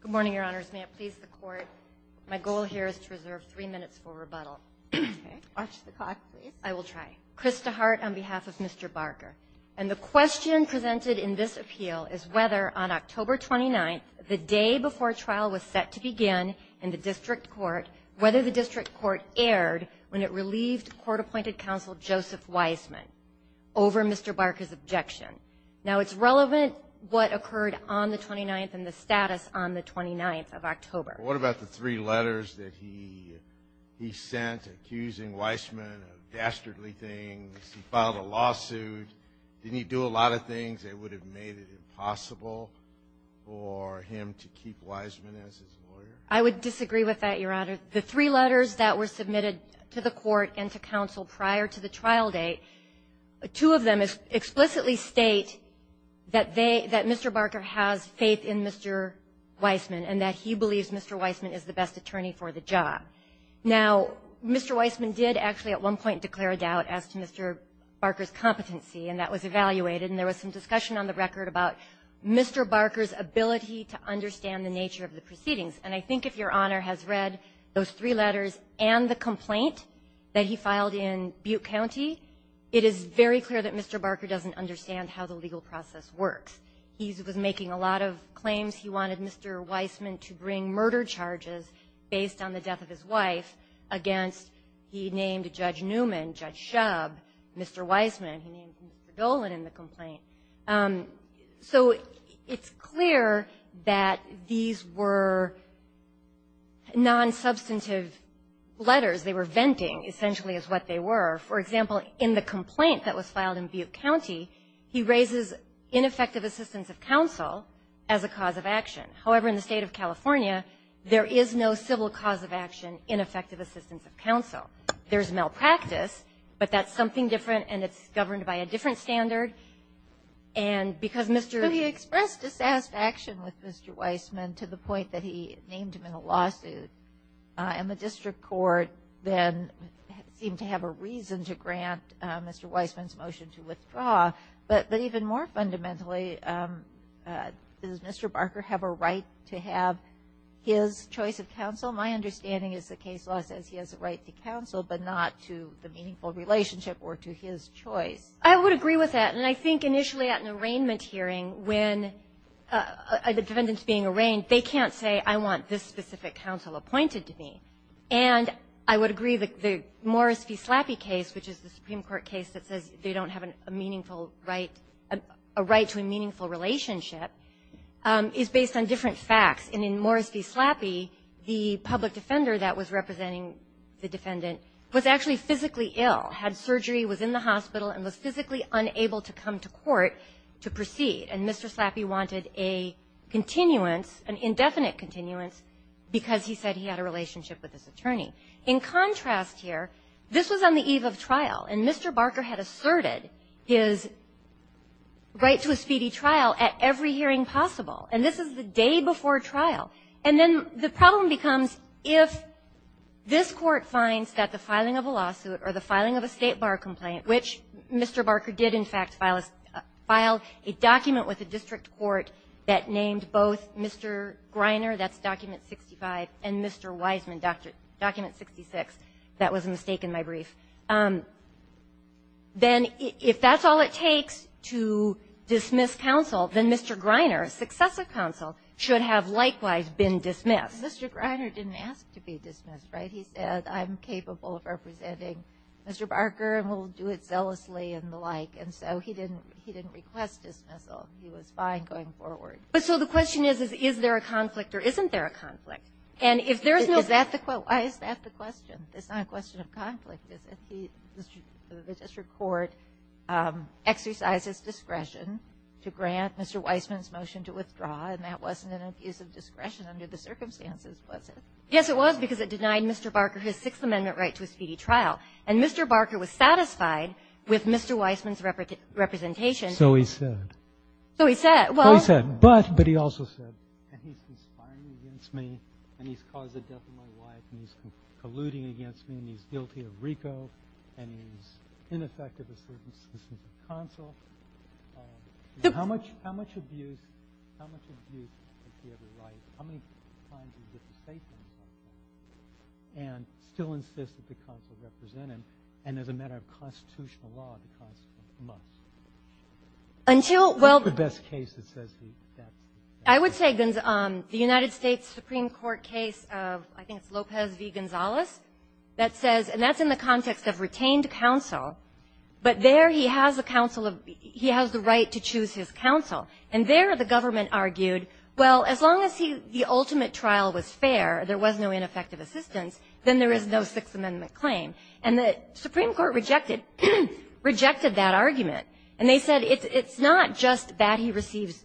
Good morning, Your Honors. May it please the Court, my goal here is to reserve three minutes for rebuttal. Okay. Watch the clock, please. I will try. Krista Hart on behalf of Mr. Barker. And the question presented in this appeal is whether, on October 29th, the day before trial was set to begin in the district court, whether the district court erred when it relieved court-appointed counsel Joseph Wiseman over Mr. Barker's objection. Now, it's relevant what occurred on the 29th and the status on the 29th of October. What about the three letters that he sent accusing Wiseman of dastardly things? He filed a lawsuit. Didn't he do a lot of things that would have made it impossible for him to keep Wiseman as his lawyer? I would disagree with that, Your Honor. The three letters that were submitted to the Court and to counsel prior to the trial date, two of them explicitly state that they — that Mr. Barker has faith in Mr. Wiseman and that he believes Mr. Wiseman is the best attorney for the job. Now, Mr. Wiseman did actually at one point declare a doubt as to Mr. Barker's competency, and that was evaluated. And there was some discussion on the record about Mr. Barker's ability to understand the nature of the proceedings. And I think if Your Honor has read those three letters and the complaint that he filed in Butte County, it is very clear that Mr. Barker doesn't understand how the legal process works. He was making a lot of claims. He wanted Mr. Wiseman to bring murder charges based on the death of his wife against — he named Judge Newman, Judge Shub, Mr. Wiseman. He named Mr. Dolan in the complaint. So it's clear that these were nonsubstantive letters. They were venting, essentially, is what they were. For example, in the complaint that was filed in Butte County, he raises ineffective assistance of counsel as a cause of action. However, in the State of California, there is no civil cause of action in effective assistance of counsel. There's malpractice, but that's something different, and it's governed by a different standard. And because Mr. — So he expressed dissatisfaction with Mr. Wiseman to the point that he named him in a lawsuit. And the district court then seemed to have a reason to grant Mr. Wiseman's motion to withdraw. But even more fundamentally, does Mr. Barker have a right to have his choice of counsel? My understanding is the case law says he has a right to counsel, but not to the meaningful relationship or to his choice. I would agree with that. And I think initially at an arraignment hearing, when the defendant's being arraigned, they can't say, I want this specific counsel appointed to me. And I would agree that the Morris v. Slappy case, which is the Supreme Court case that says they don't have a meaningful right, a right to a meaningful relationship, is based on different facts. And in Morris v. Slappy, the public defender that was actually physically ill, had surgery, was in the hospital, and was physically unable to come to court to proceed. And Mr. Slappy wanted a continuance, an indefinite continuance, because he said he had a relationship with his attorney. In contrast here, this was on the eve of trial, and Mr. Barker had asserted his right to a speedy trial at every hearing possible. And this is the day before trial. And then the problem becomes, if this Court finds that the filing of a lawsuit or the filing of a State bar complaint, which Mr. Barker did, in fact, file a document with a district court that named both Mr. Greiner, that's document 65, and Mr. Weisman, document 66. That was a mistake in my brief. Then if that's all it takes to dismiss counsel, then Mr. Greiner, a successive counsel, should have likewise been dismissed. Mr. Greiner didn't ask to be dismissed, right? He said, I'm capable of representing Mr. Barker, and we'll do it zealously and the like. And so he didn't request dismissal. He was fine going forward. But so the question is, is there a conflict, or isn't there a conflict? And if there is no question of conflict, why is that the question? It's not a question of conflict, is it? The district court exercises discretion to grant Mr. Weisman's motion to withdraw and that wasn't an abuse of discretion under the circumstances, was it? Yes, it was, because it denied Mr. Barker his Sixth Amendment right to a speedy trial. And Mr. Barker was satisfied with Mr. Weisman's representation. So he said. So he said. Well, he said. But, but he also said, and he's conspiring against me, and he's caused the death of my wife, and he's colluding against me, and he's guilty of RICO, and he's ineffective under the circumstances of counsel. And how much, how much abuse, how much abuse did he ever write? How many times did he get to state that? And still insist that the counsel represent him, and as a matter of constitutional law, the counsel must? Until, well. What's the best case that says he, that's the best case? I would say the United States Supreme Court case of, I think it's Lopez v. Gonzalez, that says, and that's in the context of retained counsel, but there he has a counsel of, he has the right to choose his counsel. And there the government argued, well, as long as he, the ultimate trial was fair, there was no ineffective assistance, then there is no Sixth Amendment claim. And the Supreme Court rejected, rejected that argument. And they said, it's, it's not just that he receives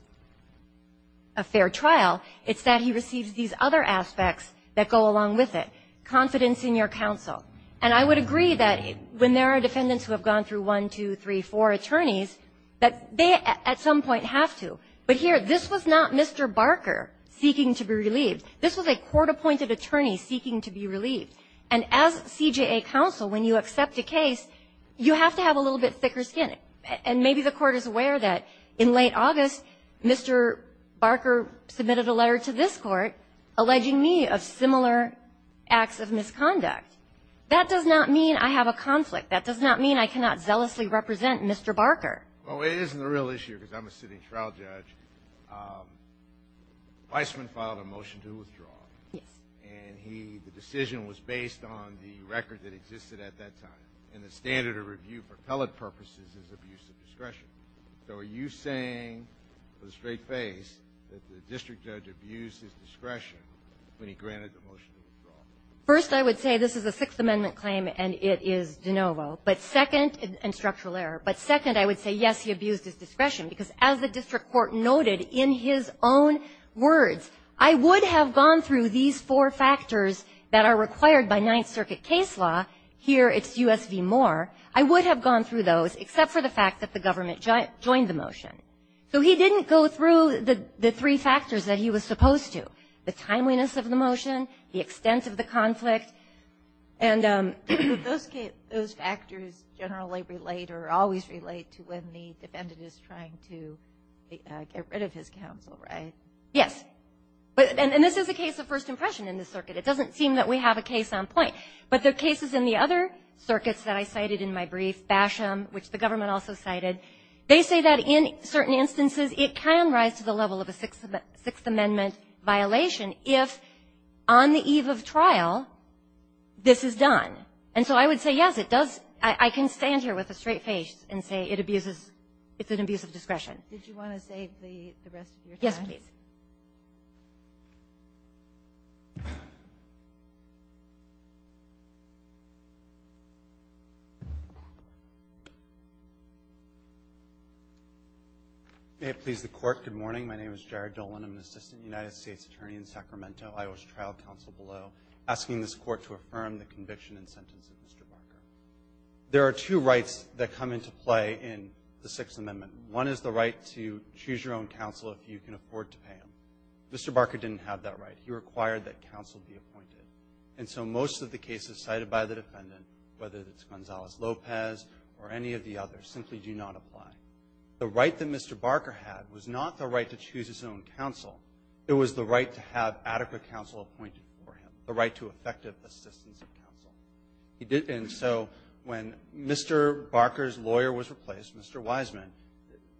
a fair trial, it's that he receives these other aspects that go along with it. Confidence in your counsel. And I would agree that when there are defendants who have gone through one, two, three, four attorneys, that they at some point have to. But here, this was not Mr. Barker seeking to be relieved. This was a court-appointed attorney seeking to be relieved. And as CJA counsel, when you accept a case, you have to have a little bit thicker skin. And maybe the court is aware that in late August, Mr. Barker submitted a letter to this Court alleging me of similar acts of misconduct. That does not mean I have a conflict. That does not mean I cannot zealously represent Mr. Barker. Well, it isn't a real issue, because I'm a sitting trial judge. Weissman filed a motion to withdraw. Yes. And he, the decision was based on the record that existed at that time. And the standard of review for appellate purposes is abuse of discretion. So are you saying with a straight face that the district judge abused his discretion when he granted the motion to withdraw? First, I would say this is a Sixth Amendment claim, and it is de novo. But second — and structural error. But second, I would say, yes, he abused his discretion, because as the district court noted in his own words, I would have gone through these four factors that are required by Ninth Circuit case law. Here, it's U.S. v. Moore. I would have gone through those, except for the fact that the government joined the motion. So he didn't go through the three factors that he was supposed to, the timeliness of the motion, the extent of the conflict. And those cases — those factors generally relate or always relate to when the defendant is trying to get rid of his counsel, right? Yes. And this is a case of first impression in this circuit. It doesn't seem that we have a case on point. But there are cases in the other circuits that I said, I cited in my brief, Basham, which the government also cited. They say that in certain instances, it can rise to the level of a Sixth Amendment violation if, on the eve of trial, this is done. And so I would say, yes, it does — I can stand here with a straight face and say it abuses — it's an abuse of discretion. Did you want to save the rest of your time? Yes, please. May it please the Court, good morning. My name is Jared Dolan. I'm an assistant United States attorney in Sacramento, Iowa's trial counsel below, asking this Court to affirm the conviction and sentence of Mr. Barker. There are two rights that come into play in the Sixth Amendment. One is the right to choose your own counsel if you can afford to pay him. Mr. Barker didn't have that right. He required that counsel be appointed. And so most of the cases cited by the defendant, whether it's Gonzalez-Lopez or any of the others, simply do not apply. The right that Mr. Barker had was not the right to choose his own counsel. It was the right to have adequate counsel appointed for him, the right to effective assistance of counsel. He didn't. And so when Mr. Barker's lawyer was replaced, Mr. Wiseman,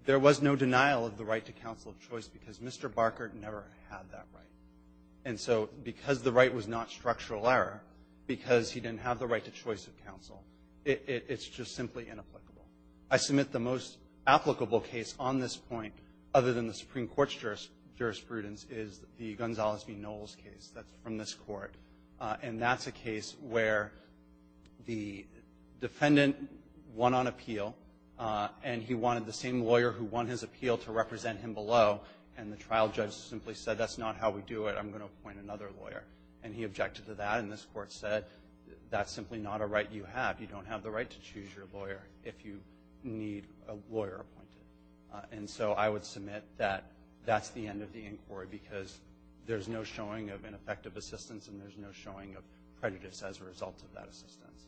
there was no denial of the right to counsel of choice because Mr. Barker never had that right. And so because the right was not structural error, because he didn't have the right to choice of counsel, it's just simply inapplicable. I submit the most applicable case on this point, other than the Supreme Court's jurisprudence, is the Gonzalez v. Knowles case that's from this Court. And that's a case where the defendant won on appeal, and he wanted the same lawyer who won his appeal to represent him below. And the trial judge simply said, that's not how we do it. I'm going to appoint another lawyer. And he objected to that, and this Court said, that's simply not a right you have. You don't have the right to choose your lawyer if you need a lawyer appointed. And so I would submit that that's the end of the inquiry because there's no showing of ineffective assistance, and there's no showing of prejudice as a result of that assistance.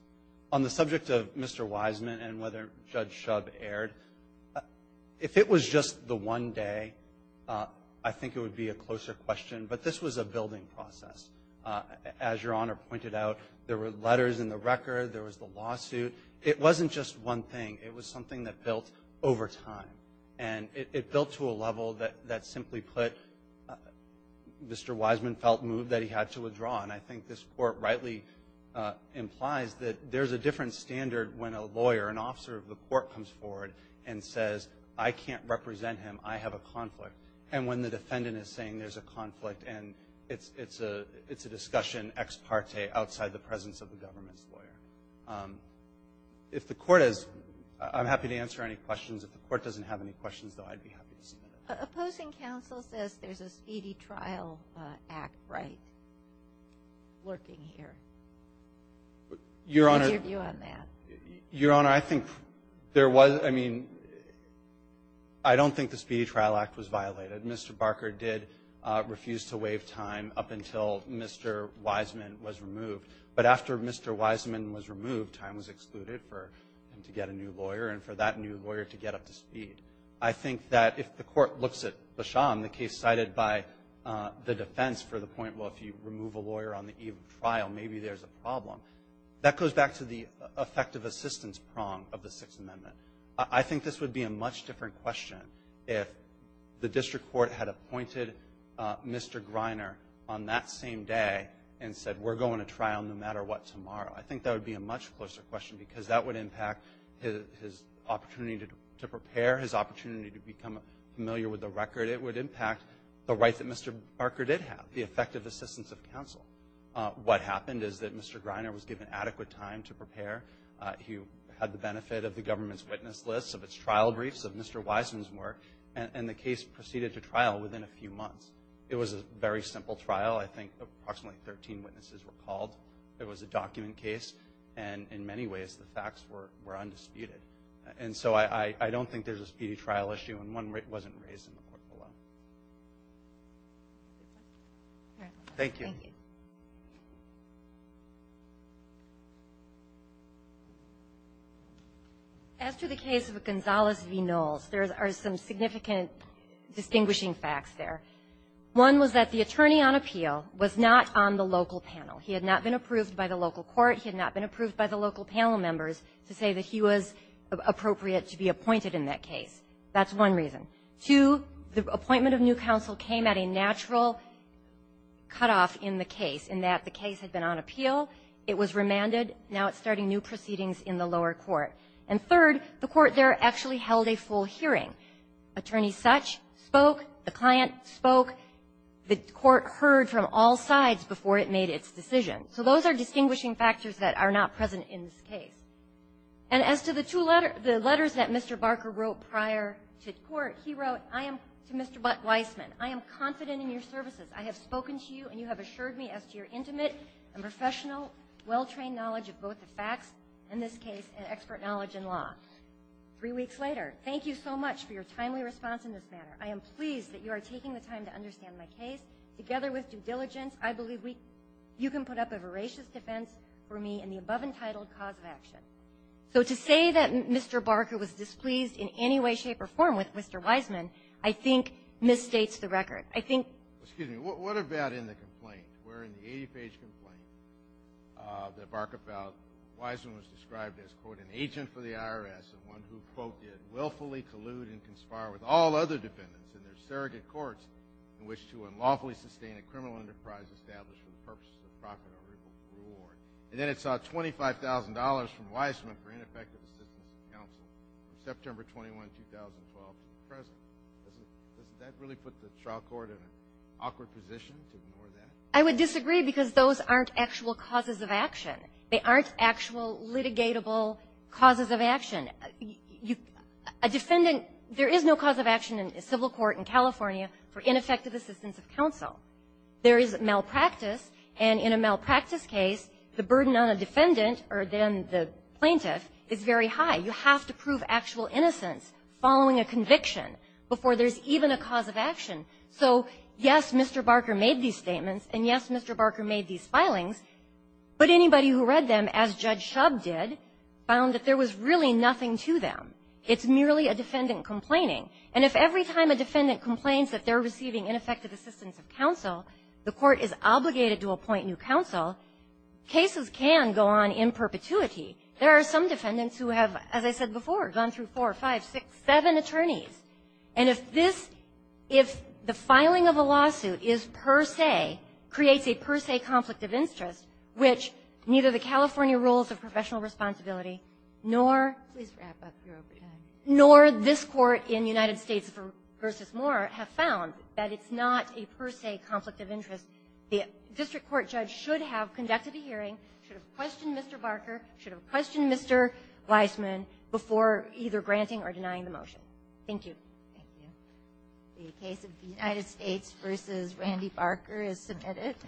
On the subject of Mr. Wiseman and whether Judge Schub aired, if it was just the one day, I think it would be a closer question, but this was a building process. As Your Honor pointed out, there were letters in the record, there was the lawsuit. It wasn't just one thing. It was something that built over time. And it built to a level that simply put, Mr. Wiseman felt moved that he had to withdraw. And I think this is, there's a different standard when a lawyer, an officer of the court comes forward and says, I can't represent him. I have a conflict. And when the defendant is saying there's a conflict, and it's a discussion ex parte outside the presence of the government's lawyer. If the Court has, I'm happy to answer any questions. If the Court doesn't have any questions, though, I'd be happy to submit it. Opposing counsel says there's a Speedy Trial Act right lurking here. Your Honor. What's your view on that? Your Honor, I think there was, I mean, I don't think the Speedy Trial Act was violated. Mr. Barker did refuse to waive time up until Mr. Wiseman was removed. But after Mr. Wiseman was removed, time was excluded for him to get a new lawyer and for that new lawyer to get up to speed. I think that if the Court looks at Basham, the case cited by the defense for the point, well, if you remove a lawyer on the eve of trial, maybe there's a problem, that goes back to the effective assistance prong of the Sixth Amendment. I think this would be a much different question if the district court had appointed Mr. Greiner on that same day and said, we're going to trial no matter what tomorrow. I think that would be a much closer question because that would impact his opportunity to prepare, his opportunity to become familiar with the record. It would impact the right that Mr. Barker did have, the effective assistance of counsel. What happened is that Mr. Greiner was given adequate time to prepare. He had the benefit of the government's witness list, of its trial briefs, of Mr. Wiseman's work, and the case proceeded to trial within a few months. It was a very simple trial. I think approximately 13 witnesses were called. It was a document case. And in many ways, the facts were undisputed. And so I don't think there's a speedy trial issue, and one wasn't raised in the court below. Thank you. After the case of Gonzalez v. Knowles, there are some significant distinguishing facts there. One was that the attorney on appeal was not on the local panel. He had not been approved by the local court. He had not been approved by the local panel members to say that he was appropriate to be appointed in that case. That's one reason. Two, the appointment of new counsel came at a natural cutoff in the case, in that the case had been on appeal. It was remanded. Now it's starting new proceedings in the lower court. And third, the court there actually held a full hearing. Attorney Such spoke. The client spoke. The court heard from all sides before it made its decision. So those are distinguishing factors that are not present in this case. And as to the two letters the letters that Mr. Barker wrote prior to court, he wrote, I am to Mr. Weisman, I am confident in your services. I have spoken to you, and you have assured me as to your intimate and professional, well-trained knowledge of both the facts in this case and expert knowledge in law. Three weeks later, thank you so much for your timely response in this manner. I am pleased that you are taking the time to understand my case. Together with due diligence, I believe you can put up a voracious defense for me in the above-entitled cause of action. So to say that Mr. Barker was displeased in any way, shape, or form with Mr. Weisman I think misstates the record. I think ---- Excuse me. What about in the complaint? Where in the 80-page complaint that Barker filed, Weisman was described as, quote, an agent for the IRS, and one who, quote, did willfully collude and conspire with all other defendants in their surrogate courts in which to unlawfully sustain a criminal enterprise established for the purposes of profit or reward. And then it sought $25,000 from Weisman for ineffective assistance of counsel from September 21, 2012 to the present. Doesn't that really put the trial court in an awkward position to ignore that? I would disagree because those aren't actual causes of action. They aren't actual litigatable causes of action. A defendant ---- there is no cause of action in civil court in California for ineffective assistance of counsel. There is malpractice, and in a malpractice case, the burden on a defendant or then the plaintiff is very high. You have to prove actual innocence following a conviction before there is even a cause of action. So, yes, Mr. Barker made these statements, and, yes, Mr. Barker made these filings, but anybody who read them, as Judge Shub did, found that there was really nothing to them. It's merely a defendant complaining. And if every time a defendant complains that they're receiving ineffective assistance of counsel, the court is obligated to appoint new counsel, cases can go on in perpetuity. There are some defendants who have, as I said before, gone through four, five, six, seven attorneys. And if this ---- if the filing of a lawsuit is per se, creates a per se conflict of interest, which neither the California rules of professional responsibility nor ---- Kagan. Please wrap up your opening. Nor this Court in United States v. Moore have found that it's not a per se conflict of interest. The district court judge should have conducted a hearing, should have questioned Mr. Barker, should have questioned Mr. Weisman before either granting or denying the motion. Thank you. The case of the United States v. Randy Barker is submitted.